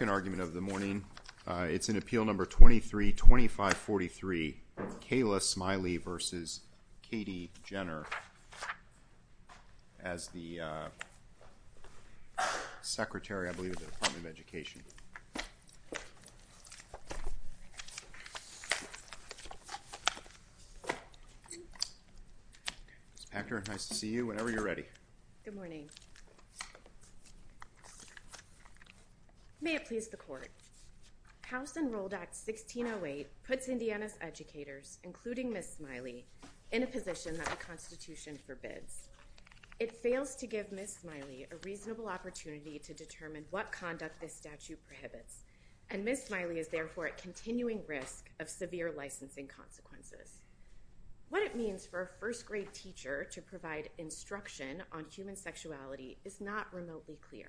as the Secretary, I believe, of the Department of Education. Ms. Packer, nice to see you, whenever you're ready. Good morning. May it please the Court. House Enrolled Act 1608 puts Indiana's educators, including Ms. Smiley, in a position that the Constitution forbids. It fails to give Ms. Smiley a reasonable opportunity to determine what conduct this statute prohibits, and Ms. Smiley is therefore at continuing risk of severe licensing consequences. What it means for a first grade teacher to provide instruction on human sexuality is not remotely clear.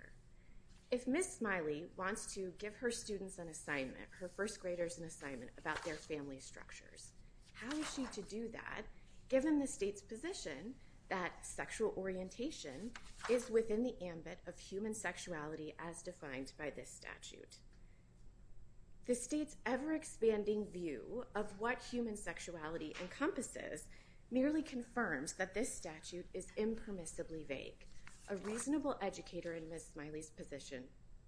If Ms. Smiley wants to give her students an assignment, her first graders an assignment about their family structures, how is she to do that, given the state's position that sexual orientation is within the ambit of human sexuality as defined by this statute? The state's ever-expanding view of what human sexuality encompasses merely confirms that this statute is impermissibly vague. A reasonable educator in Ms. Smiley's position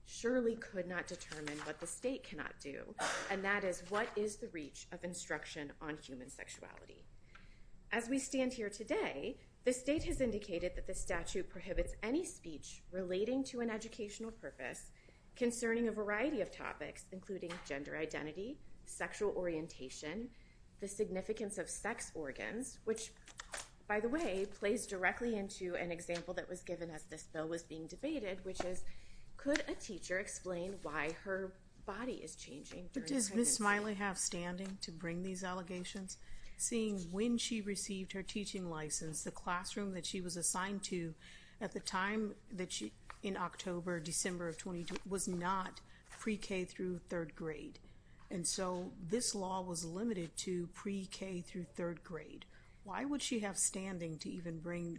surely could not determine what the state cannot do, and that is, what is the reach of instruction on human sexuality? As we stand here today, the state has indicated that this statute prohibits any speech relating to an educational purpose concerning a variety of topics, including gender identity, sexual orientation, the significance of sex organs, which, by the way, plays directly into an example that was given as this bill was being debated, which is, could a teacher explain why her body is changing during pregnancy? Does Ms. Smiley have standing to bring these allegations? Seeing when she received her teaching license, the classroom that she was assigned to at the time in October, December of 2012 was not pre-K through third grade, and so this law was limited to pre-K through third grade. Why would she have standing to even bring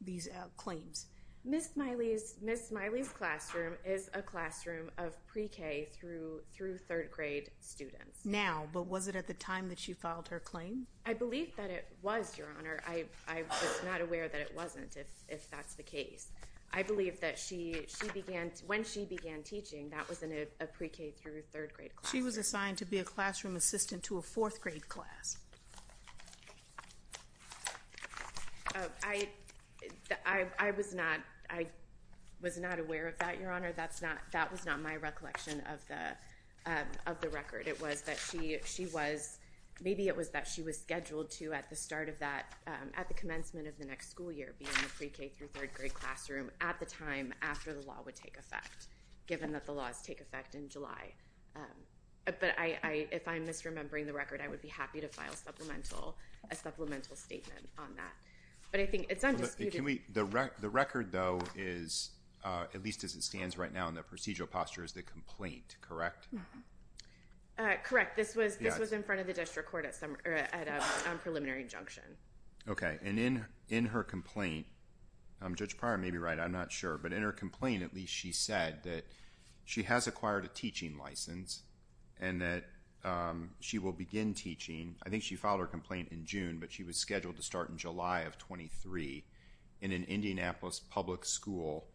these claims? Ms. Smiley's classroom is a classroom of pre-K through third grade students. Now, but was it at the time that she filed her claim? I believe that it was, Your Honor. I'm just not aware that it wasn't, if that's the case. I believe that when she began teaching, that was in a pre-K through third grade classroom. She was assigned to be a classroom assistant to a fourth grade class. I was not aware of that, Your Honor. That was not my recollection of the record. It was that she was, maybe it was that she was scheduled to, at the start of that, at the commencement of the next school year, be in the pre-K through third grade classroom at the time after the law would take effect, given that the laws take effect in July. But if I'm misremembering the record, I would be happy to file a supplemental statement on that. But I think it's undisputed. The record, though, is, at least as it stands right now in the procedural posture, is the complaint, correct? Correct. This was in front of the district court at a preliminary injunction. Okay. And in her complaint, Judge Pryor may be right, I'm not sure, but in her complaint, at least, she said that she has acquired a teaching license and that she will begin teaching. I think she filed her complaint in June, but she was scheduled to start in July of 23 in an Indianapolis public school,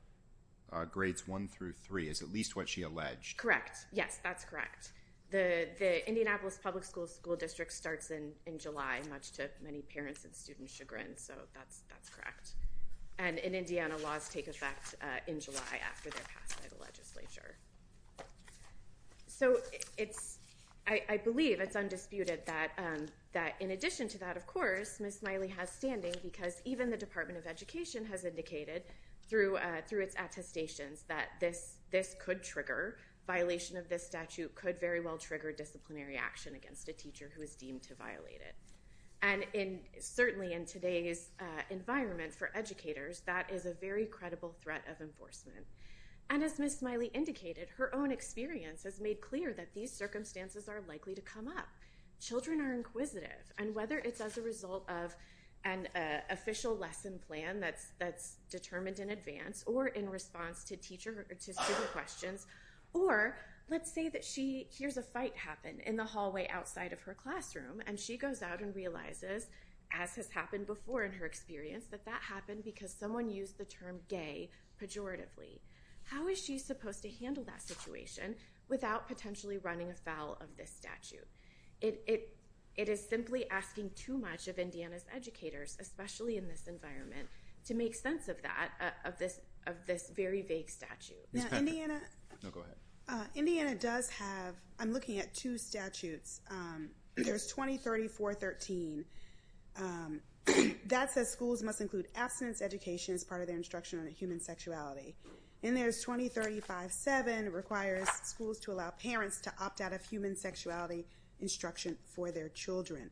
grades one through three, is at least what she alleged. Correct. Yes, that's correct. The Indianapolis public school district starts in July, much to many parents' and students' chagrin, so that's correct. And in Indiana, laws take effect in July after they're passed by the legislature. So I believe it's undisputed that in addition to that, of course, Ms. Smiley has standing because even the Department of Education has indicated through its attestations that this could trigger, violation of this statute could very well trigger disciplinary action against a teacher who is deemed to violate it. And certainly in today's environment for educators, that is a very credible threat of enforcement. And as Ms. Smiley indicated, her own experience has made clear that these circumstances are likely to come up. Children are inquisitive, and whether it's as a result of an official lesson plan that's determined in advance or in response to teacher questions, or let's say that she hears a fight happen in the hallway outside of her classroom and she goes out and realizes, as has happened before in her experience, that that happened because someone used the term gay pejoratively. How is she supposed to handle that situation without potentially running afoul of this statute? It is simply asking too much of Indiana's educators, especially in this environment, to make sense of that, of this very vague statute. No, go ahead. Indiana does have, I'm looking at two statutes. There's 2034.13. That says schools must include abstinence education as part of their instruction on human sexuality. And there's 2035.7, requires schools to allow parents to opt out of human sexuality instruction for their children.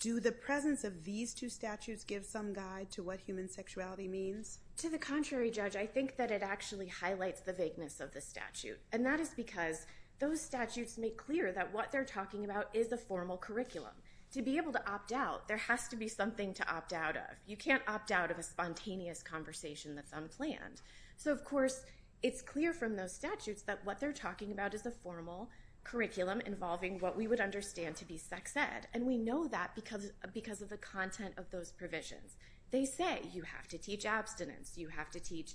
Do the presence of these two statutes give some guide to what human sexuality means? To the contrary, Judge, I think that it actually highlights the vagueness of the statute. And that is because those statutes make clear that what they're talking about is a formal curriculum. To be able to opt out, there has to be something to opt out of. You can't opt out of a spontaneous conversation that's unplanned. So, of course, it's clear from those statutes that what they're talking about is a formal curriculum involving what we would understand to be sex ed. And we know that because of the content of those provisions. They say you have to teach abstinence. You have to teach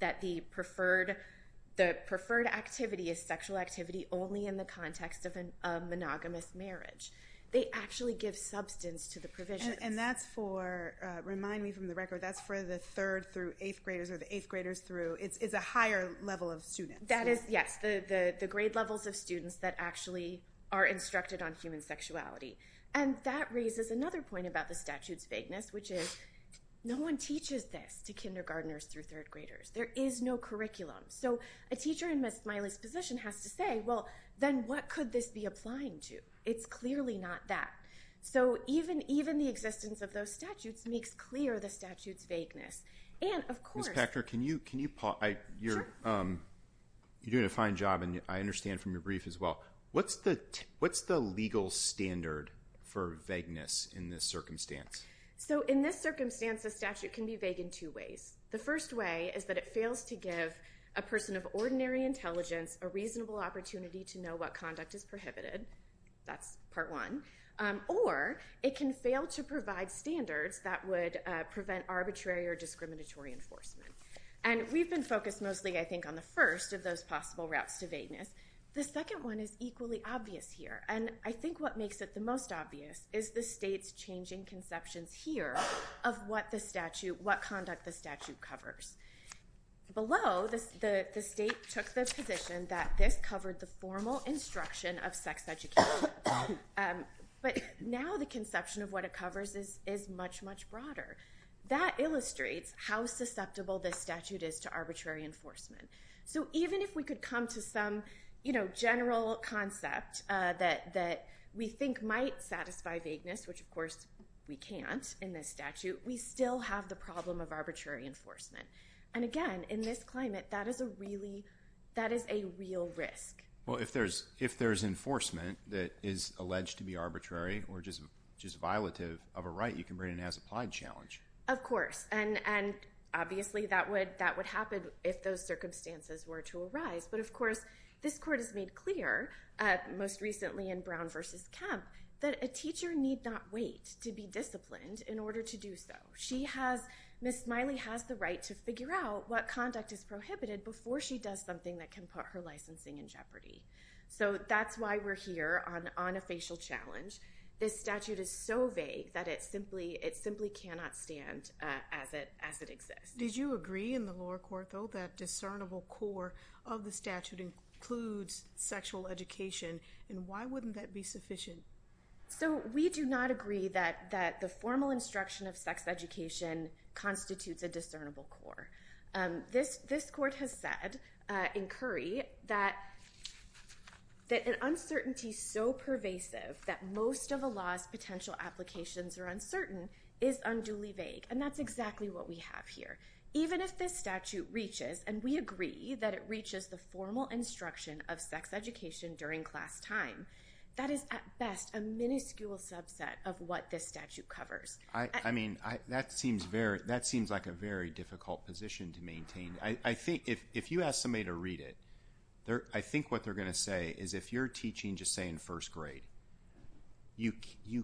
that the preferred activity is sexual activity only in the context of a monogamous marriage. They actually give substance to the provisions. And that's for, remind me from the record, that's for the third through eighth graders or the eighth graders through. It's a higher level of students. That is, yes, the grade levels of students that actually are instructed on human sexuality. And that raises another point about the statute's vagueness, which is no one teaches this to kindergarteners through third graders. There is no curriculum. So a teacher in Ms. Smiley's position has to say, well, then what could this be applying to? It's clearly not that. So even the existence of those statutes makes clear the statute's vagueness. And, of course. Ms. Packner, you're doing a fine job, and I understand from your brief as well. What's the legal standard for vagueness in this circumstance? So in this circumstance, a statute can be vague in two ways. The first way is that it fails to give a person of ordinary intelligence a reasonable opportunity to know what conduct is prohibited. That's part one. Or it can fail to provide standards that would prevent arbitrary or discriminatory enforcement. And we've been focused mostly, I think, on the first of those possible routes to vagueness. The second one is equally obvious here. And I think what makes it the most obvious is the state's changing conceptions here of what conduct the statute covers. Below, the state took the position that this covered the formal instruction of sex education. But now the conception of what it covers is much, much broader. That illustrates how susceptible this statute is to arbitrary enforcement. So even if we could come to some general concept that we think might satisfy vagueness, which, of course, we can't in this statute, we still have the problem of arbitrary enforcement. And, again, in this climate, that is a real risk. Well, if there's enforcement that is alleged to be arbitrary or just violative of a right, you can bring in an as-applied challenge. Of course. And, obviously, that would happen if those circumstances were to arise. But, of course, this Court has made clear, most recently in Brown v. Kemp, that a teacher need not wait to be disciplined in order to do so. Ms. Smiley has the right to figure out what conduct is prohibited before she does something that can put her licensing in jeopardy. So that's why we're here on a facial challenge. This statute is so vague that it simply cannot stand as it exists. Did you agree in the lower court, though, that discernible core of the statute includes sexual education? And why wouldn't that be sufficient? So, we do not agree that the formal instruction of sex education constitutes a discernible core. This Court has said in Curry that an uncertainty so pervasive that most of a law's potential applications are uncertain is unduly vague. And that's exactly what we have here. Even if this statute reaches, and we agree that it reaches the formal instruction of sex education during class time, that is, at best, a miniscule subset of what this statute covers. I mean, that seems like a very difficult position to maintain. I think if you ask somebody to read it, I think what they're going to say is if you're teaching, just say, in first grade, you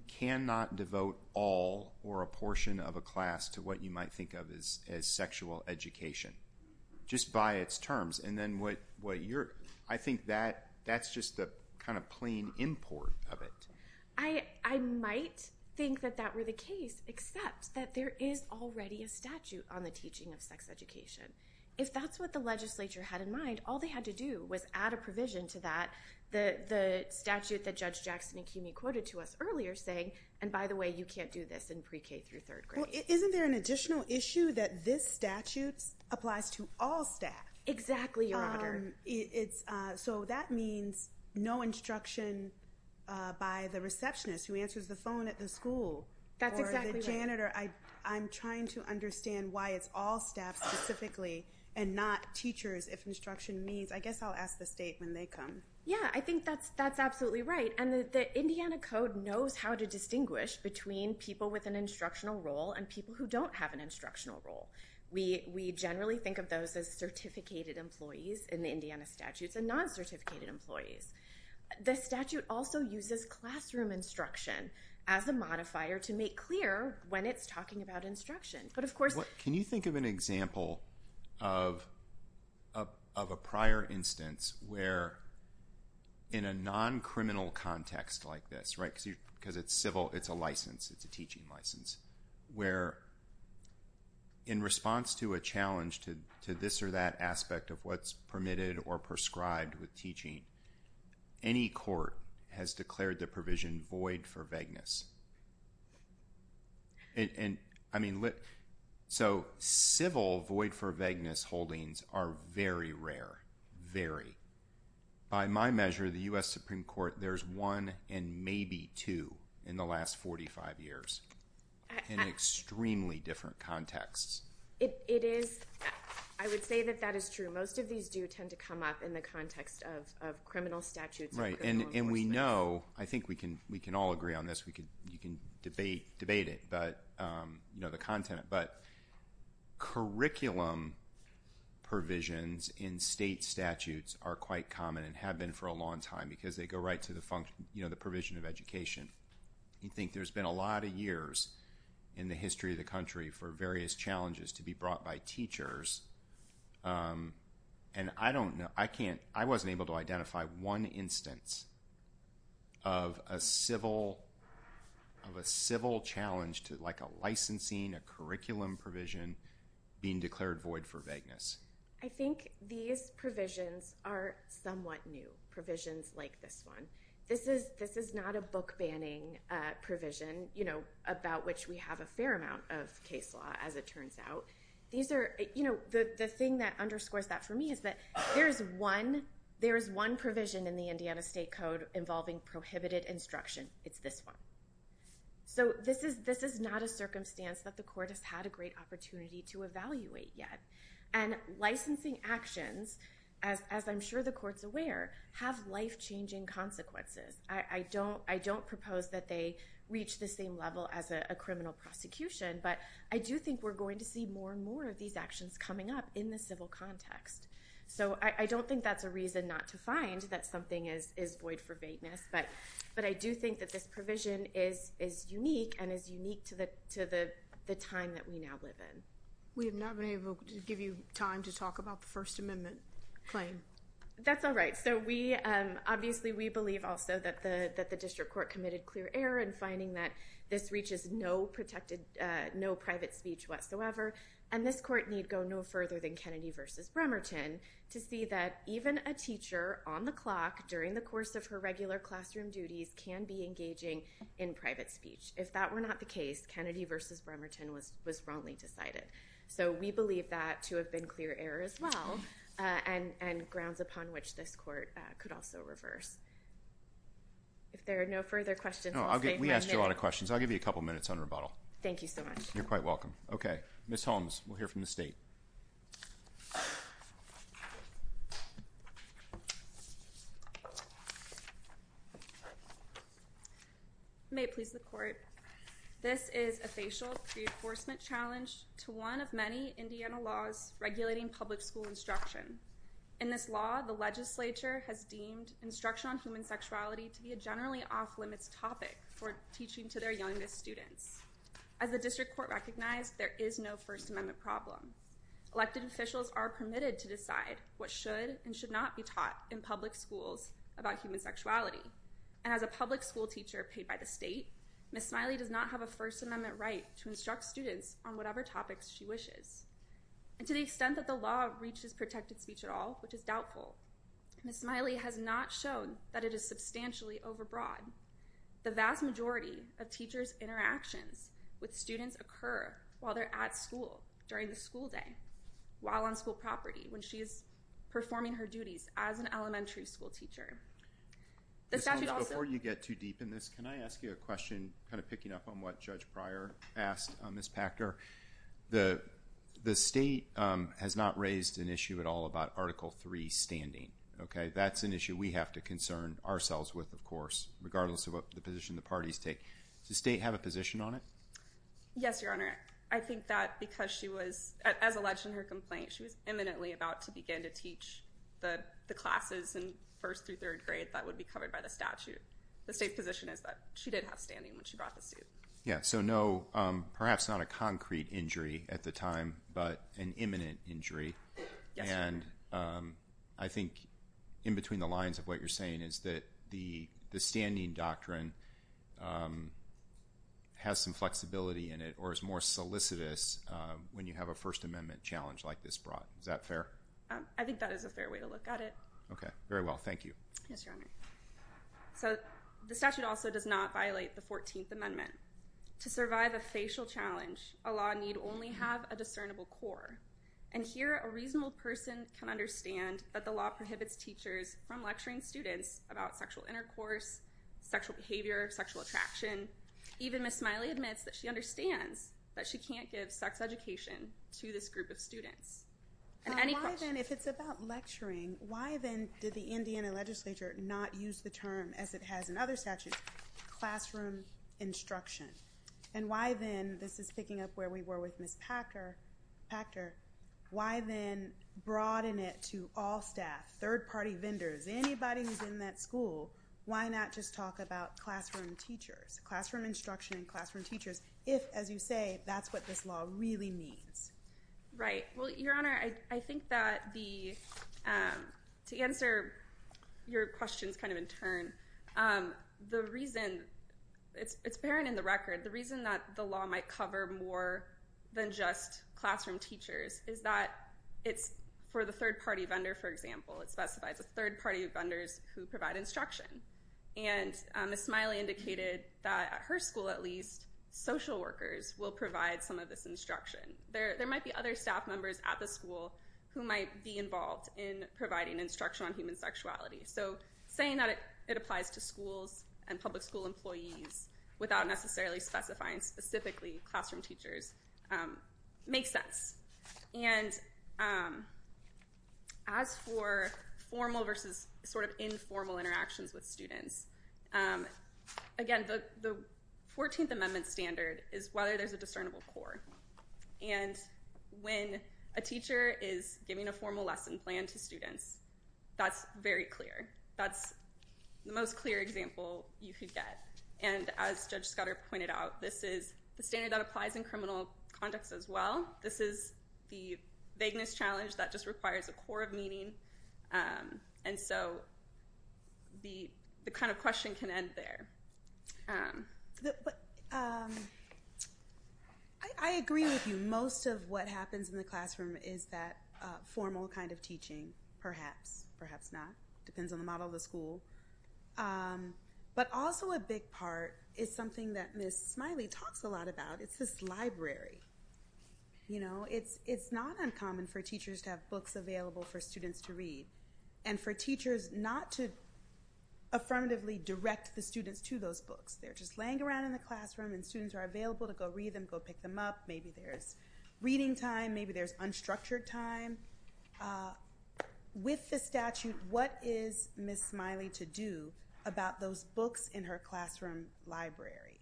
cannot devote all or a portion of a class to what you might think of as sexual education, just by its terms. I think that's just the kind of plain import of it. I might think that that were the case, except that there is already a statute on the teaching of sex education. If that's what the legislature had in mind, all they had to do was add a provision to that, the statute that Judge Jackson and Cuney quoted to us earlier, saying, and by the way, you can't do this in pre-K through third grade. Well, isn't there an additional issue that this statute applies to all staff? Exactly, Your Honor. So that means no instruction by the receptionist who answers the phone at the school. That's exactly right. Or the janitor. I'm trying to understand why it's all staff specifically and not teachers, if instruction means. I guess I'll ask the state when they come. Yeah, I think that's absolutely right. And the Indiana Code knows how to distinguish between people with an instructional role and people who don't have an instructional role. We generally think of those as certificated employees in the Indiana statutes and non-certificated employees. The statute also uses classroom instruction as a modifier to make clear when it's talking about instruction. Can you think of an example of a prior instance where, in a non-criminal context like this, because it's civil, it's a license, it's a teaching license, where, in response to a challenge to this or that aspect of what's permitted or prescribed with teaching, any court has declared the provision void for vagueness. So civil void-for-vagueness holdings are very rare, very. By my measure, the U.S. Supreme Court, there's one and maybe two in the last 45 years in extremely different contexts. It is. I would say that that is true. Most of these do tend to come up in the context of criminal statutes. Right, and we know. I think we can all agree on this. You can debate it, the content. But curriculum provisions in state statutes are quite common and have been for a long time because they go right to the provision of education. I think there's been a lot of years in the history of the country for various challenges to be brought by teachers. I wasn't able to identify one instance of a civil challenge, like a licensing, a curriculum provision, being declared void for vagueness. I think these provisions are somewhat new, provisions like this one. This is not a book-banning provision, about which we have a fair amount of case law, as it turns out. The thing that underscores that for me is that there is one provision in the Indiana State Code involving prohibited instruction. It's this one. This is not a circumstance that the court has had a great opportunity to evaluate yet. Licensing actions, as I'm sure the court's aware, have life-changing consequences. I don't propose that they reach the same level as a criminal prosecution. But I do think we're going to see more and more of these actions coming up in the civil context. I don't think that's a reason not to find that something is void for vagueness. But I do think that this provision is unique and is unique to the time that we now live in. We have not been able to give you time to talk about the First Amendment claim. That's all right. Obviously, we believe also that the district court committed clear error in finding that this reaches no private speech whatsoever. This court need go no further than Kennedy v. Bremerton to see that even a teacher on the clock during the course of her regular classroom duties can be engaging in private speech. If that were not the case, Kennedy v. Bremerton was wrongly decided. So, we believe that to have been clear error as well and grounds upon which this court could also reverse. If there are no further questions, I'll stay for a minute. No, we asked you a lot of questions. I'll give you a couple minutes on rebuttal. Thank you so much. You're quite welcome. Okay. Ms. Holmes, we'll hear from the state. May it please the court. This is a facial reinforcement challenge to one of many Indiana laws regulating public school instruction. In this law, the legislature has deemed instruction on human sexuality to be a generally off-limits topic for teaching to their youngest students. As the district court recognized, there is no First Amendment problem. Elected officials are permitted to decide what should and should not be taught in public schools about human sexuality. And as a public school teacher paid by the state, Ms. Smiley does not have a First Amendment right to instruct students on whatever topics she wishes. And to the extent that the law reaches protected speech at all, which is doubtful, Ms. Smiley has not shown that it is substantially overbroad. The vast majority of teachers' interactions with students occur while they're at school, during the school day, while on school property, when she is performing her duties as an elementary school teacher. Before you get too deep in this, can I ask you a question, kind of picking up on what Judge Pryor asked Ms. Packer? The state has not raised an issue at all about Article III standing. Okay. That's an issue we have to concern ourselves with, of course, regardless of what position the parties take. Does the state have a position on it? Yes, Your Honor. I think that because she was, as alleged in her complaint, she was imminently about to begin to teach the classes in first through third grade that would be covered by the statute. The state's position is that she did have standing when she brought the suit. Yeah, so no, perhaps not a concrete injury at the time, but an imminent injury. Yes, Your Honor. And I think in between the lines of what you're saying is that the standing doctrine has some flexibility in it or is more solicitous when you have a First Amendment challenge like this brought. Is that fair? I think that is a fair way to look at it. Okay, very well. Thank you. Yes, Your Honor. So the statute also does not violate the 14th Amendment. To survive a facial challenge, a law need only have a discernible core. And here a reasonable person can understand that the law prohibits teachers from lecturing students about sexual intercourse, sexual behavior, sexual attraction. Even Ms. Smiley admits that she understands that she can't give sex education to this group of students. Why then, if it's about lecturing, why then did the Indiana legislature not use the term, as it has in other statutes, classroom instruction? And why then, this is picking up where we were with Ms. Packer, why then broaden it to all staff, third-party vendors, anybody who's in that school? Why not just talk about classroom teachers, classroom instruction and classroom teachers if, as you say, that's what this law really means? Right. Well, Your Honor, I think that the – to answer your questions kind of in turn, the reason – it's apparent in the record. The reason that the law might cover more than just classroom teachers is that it's for the third-party vendor, for example. It specifies a third party of vendors who provide instruction. And Ms. Smiley indicated that at her school, at least, social workers will provide some of this instruction. There might be other staff members at the school who might be involved in providing instruction on human sexuality. So saying that it applies to schools and public school employees without necessarily specifying specifically classroom teachers makes sense. And as for formal versus sort of informal interactions with students, again, the 14th Amendment standard is whether there's a discernible core. And when a teacher is giving a formal lesson plan to students, that's very clear. That's the most clear example you could get. And as Judge Scudder pointed out, this is the standard that applies in criminal context as well. This is the vagueness challenge that just requires a core of meaning. And so the kind of question can end there. I agree with you. Most of what happens in the classroom is that formal kind of teaching, perhaps, perhaps not. Depends on the model of the school. But also a big part is something that Ms. Smiley talks a lot about. It's this library. You know, it's not uncommon for teachers to have books available for students to read. And for teachers not to affirmatively direct the students to those books. They're just laying around in the classroom and students are available to go read them, go pick them up. Maybe there's reading time. Maybe there's unstructured time. With the statute, what is Ms. Smiley to do about those books in her classroom library?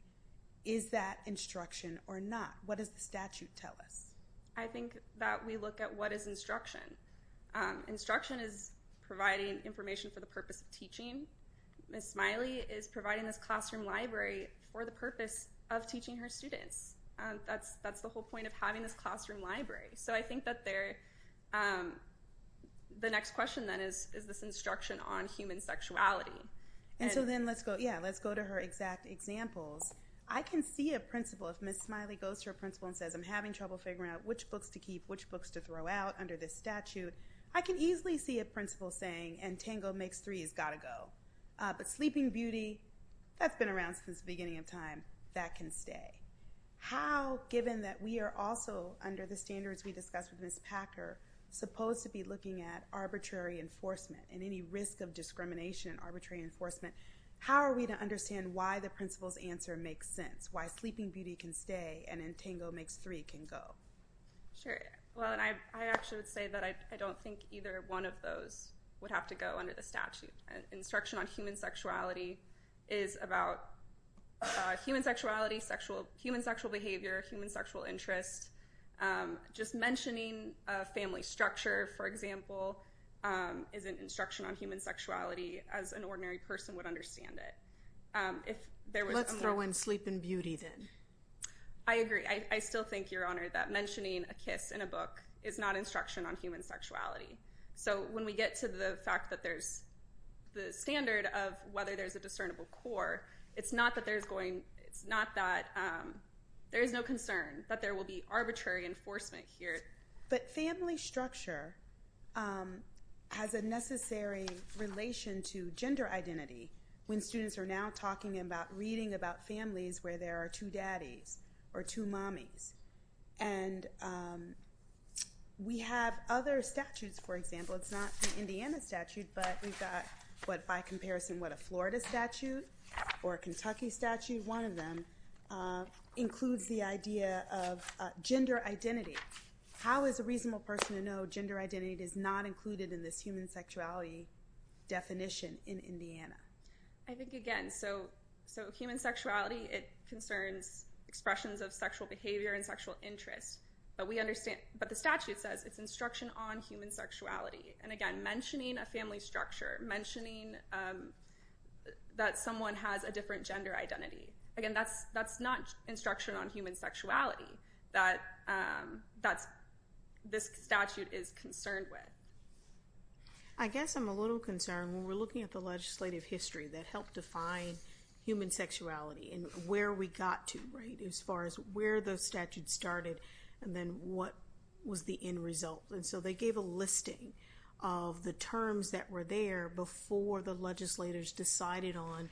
Is that instruction or not? What does the statute tell us? I think that we look at what is instruction. Instruction is providing information for the purpose of teaching. Ms. Smiley is providing this classroom library for the purpose of teaching her students. That's the whole point of having this classroom library. So I think that the next question, then, is this instruction on human sexuality. And so then let's go to her exact examples. I can see a principal, if Ms. Smiley goes to her principal and says, I'm having trouble figuring out which books to keep, which books to throw out under this statute. I can easily see a principal saying, and Tango makes three, it's got to go. But Sleeping Beauty, that's been around since the beginning of time. That can stay. How, given that we are also, under the standards we discussed with Ms. Packer, supposed to be looking at arbitrary enforcement and any risk of discrimination in arbitrary enforcement, how are we to understand why the principal's answer makes sense, why Sleeping Beauty can stay and Tango makes three can go? Sure. Well, and I actually would say that I don't think either one of those would have to go under the statute. Instruction on human sexuality is about human sexuality, human sexual behavior, human sexual interest. Just mentioning a family structure, for example, isn't instruction on human sexuality as an ordinary person would understand it. Let's throw in Sleeping Beauty, then. I agree. I still think, Your Honor, that mentioning a kiss in a book is not instruction on human sexuality. So when we get to the fact that there's the standard of whether there's a discernible core, it's not that there is no concern that there will be arbitrary enforcement here. But family structure has a necessary relation to gender identity when students are now talking about reading about families where there are two daddies or two mommies. And we have other statutes, for example. It's not the Indiana statute, but we've got, by comparison, what, a Florida statute or a Kentucky statute? One of them includes the idea of gender identity. How is a reasonable person to know gender identity is not included in this human sexuality definition in Indiana? I think, again, so human sexuality, it concerns expressions of sexual behavior and sexual interest. But the statute says it's instruction on human sexuality. And, again, mentioning a family structure, mentioning that someone has a different gender identity, again, that's not instruction on human sexuality that this statute is concerned with. I guess I'm a little concerned when we're looking at the legislative history that helped define human sexuality and where we got to as far as where the statute started and then what was the end result. And so they gave a listing of the terms that were there before the legislators decided on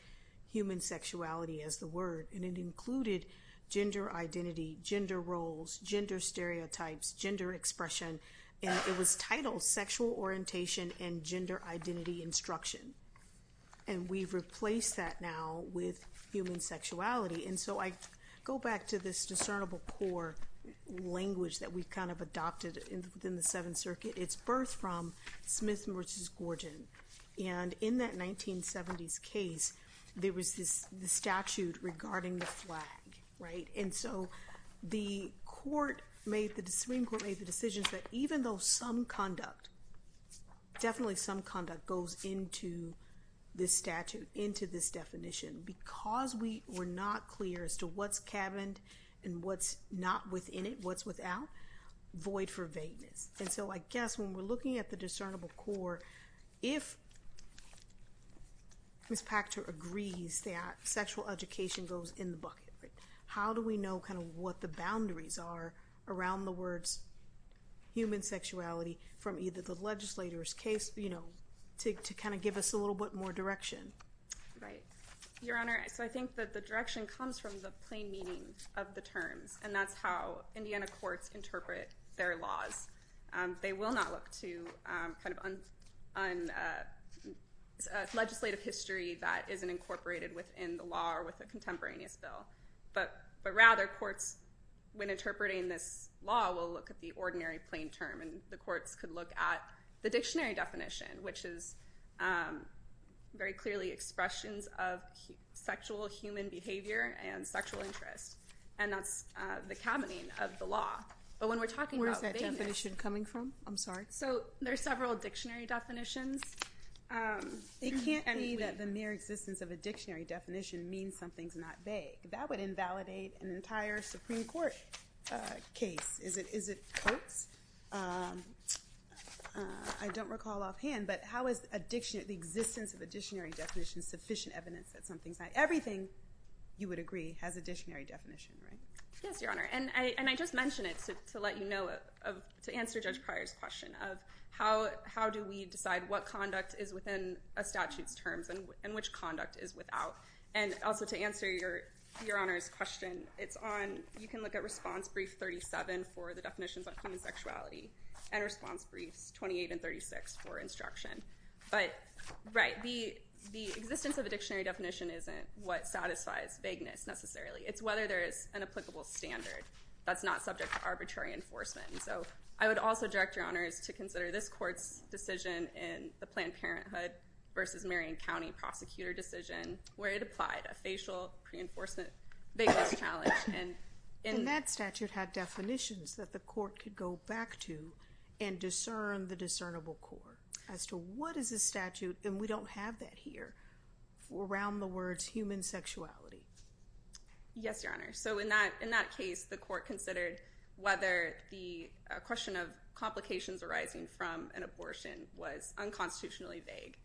human sexuality as the word. And it included gender identity, gender roles, gender stereotypes, gender expression. And it was titled Sexual Orientation and Gender Identity Instruction. And we've replaced that now with human sexuality. And so I go back to this discernible core language that we kind of adopted in the Seventh Circuit. It's birthed from Smith v. Gordon. And in that 1970s case, there was this statute regarding the flag. And so the Supreme Court made the decision that even though some conduct, definitely some conduct goes into this statute, into this definition, because we were not clear as to what's cabined and what's not within it, what's without, void for vagueness. And so I guess when we're looking at the discernible core, if Ms. Pachter agrees that sexual education goes in the bucket, how do we know kind of what the boundaries are around the words human sexuality from either the legislator's case, you know, to kind of give us a little bit more direction? Right. Your Honor, so I think that the direction comes from the plain meaning of the terms, and that's how Indiana courts interpret their laws. They will not look to kind of a legislative history that isn't incorporated within the law or with a contemporaneous bill. But rather, courts, when interpreting this law, will look at the ordinary plain term. And the courts could look at the dictionary definition, which is very clearly expressions of sexual human behavior and sexual interest. And that's the cabining of the law. But when we're talking about vagueness. Where's that definition coming from? I'm sorry. So there are several dictionary definitions. It can't be that the mere existence of a dictionary definition means something's not vague. That would invalidate an entire Supreme Court case. Is it courts? I don't recall offhand. But how is the existence of a dictionary definition sufficient evidence that something's not? Everything, you would agree, has a dictionary definition, right? Yes, Your Honor. And I just mention it to let you know, to answer Judge Pryor's question, of how do we decide what conduct is within a statute's terms and which conduct is without? And also to answer Your Honor's question, it's on, you can look at response brief 37 for the definitions on human sexuality, and response briefs 28 and 36 for instruction. But, right, the existence of a dictionary definition isn't what satisfies vagueness necessarily. It's whether there is an applicable standard that's not subject to arbitrary enforcement. And so I would also direct Your Honors to consider this court's decision in the Planned Parenthood versus Marion County prosecutor decision where it applied a facial pre-enforcement vagueness challenge. And that statute had definitions that the court could go back to and discern the discernible core as to what is the statute, and we don't have that here, around the words human sexuality. Yes, Your Honor. So in that case, the court considered whether the question of complications arising from an abortion was unconstitutionally vague.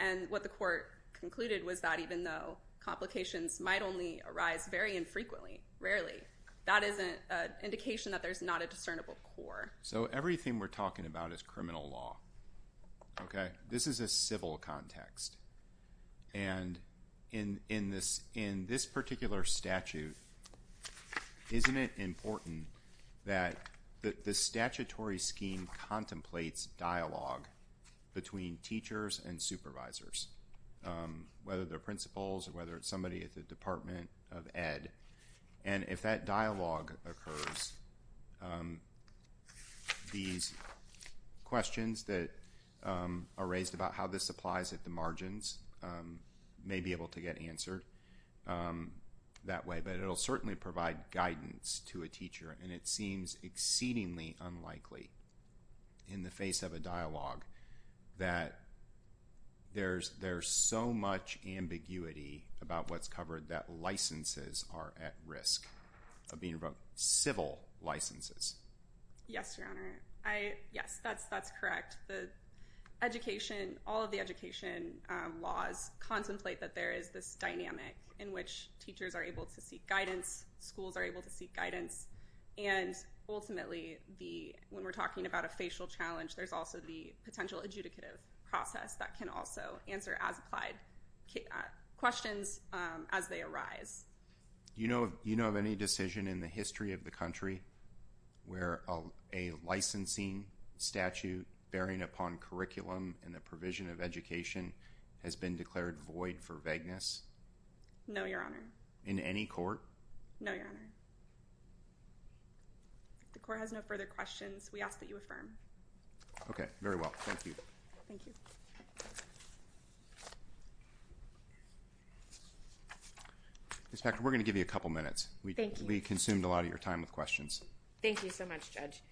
And what the court concluded was that even though complications might only arise very infrequently, rarely, that isn't an indication that there's not a discernible core. So everything we're talking about is criminal law. This is a civil context. And in this particular statute, isn't it important that the statutory scheme contemplates dialogue between teachers and supervisors, whether they're principals or whether it's somebody at the Department of Ed? And if that dialogue occurs, these questions that are raised about how this applies at the margins may be able to get answered that way. But it'll certainly provide guidance to a teacher, and it seems exceedingly unlikely in the face of a dialogue that there's so much ambiguity about what's covered that licenses are at risk of being revoked, civil licenses. Yes, Your Honor. Yes, that's correct. All of the education laws contemplate that there is this dynamic in which teachers are able to seek guidance, schools are able to seek guidance, and ultimately, when we're talking about a facial challenge, there's also the potential adjudicative process that can also answer as-applied questions as they arise. Do you know of any decision in the history of the country where a licensing statute bearing upon curriculum and the provision of education has been declared void for vagueness? No, Your Honor. In any court? No, Your Honor. If the court has no further questions, we ask that you affirm. Okay. Very well. Thank you. Thank you. Inspector, we're going to give you a couple minutes. Thank you. We consumed a lot of your time with questions. Thank you so much, Judge.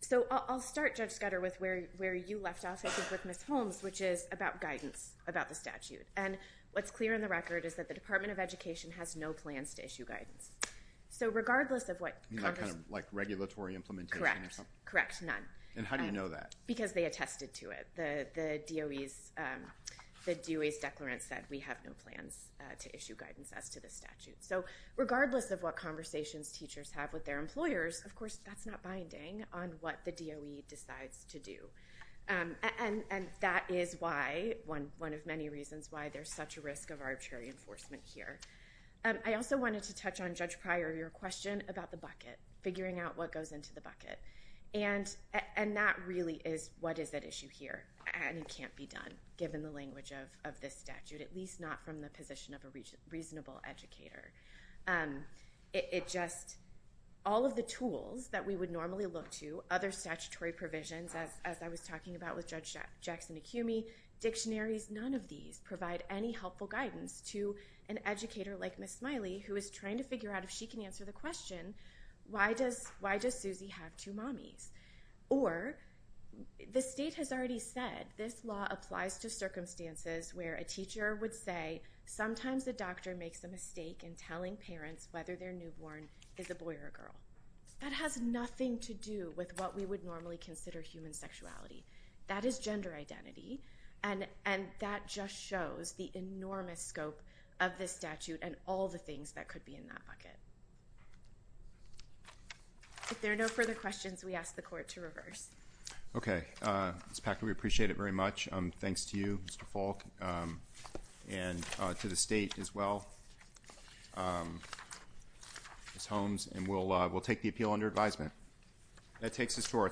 So I'll start, Judge Scudder, with where you left off, I think, with Ms. Holmes, which is about guidance about the statute. And what's clear in the record is that the Department of Education has no plans to issue guidance. So regardless of what… You mean like regulatory implementation or something? Correct. Correct. None. And how do you know that? Because they attested to it. The DOE's declarant said, we have no plans to issue guidance as to the statute. So regardless of what conversations teachers have with their employers, of course, that's not binding on what the DOE decides to do. And that is why, one of many reasons why there's such a risk of arbitrary enforcement here. I also wanted to touch on, Judge Pryor, your question about the bucket, figuring out what goes into the bucket. And that really is, what is at issue here? And it can't be done, given the language of this statute, at least not from the position of a reasonable educator. It just… All of the tools that we would normally look to, other statutory provisions, as I was talking about with Judge Jackson-McHumey, dictionaries, none of these provide any helpful guidance to an educator like Ms. Smiley, who is trying to figure out if she can answer the question, why does Susie have two mommies? Or, the state has already said, this law applies to circumstances where a teacher would say, sometimes the doctor makes a mistake in telling parents whether their newborn is a boy or a girl. That has nothing to do with what we would normally consider human sexuality. That is gender identity. And that just shows the enormous scope of this statute and all the things that could be in that bucket. If there are no further questions, we ask the Court to reverse. Okay. Ms. Packer, we appreciate it very much. Thanks to you, Mr. Falk, and to the state as well, Ms. Holmes. And we'll take the appeal under advisement. That takes us to our…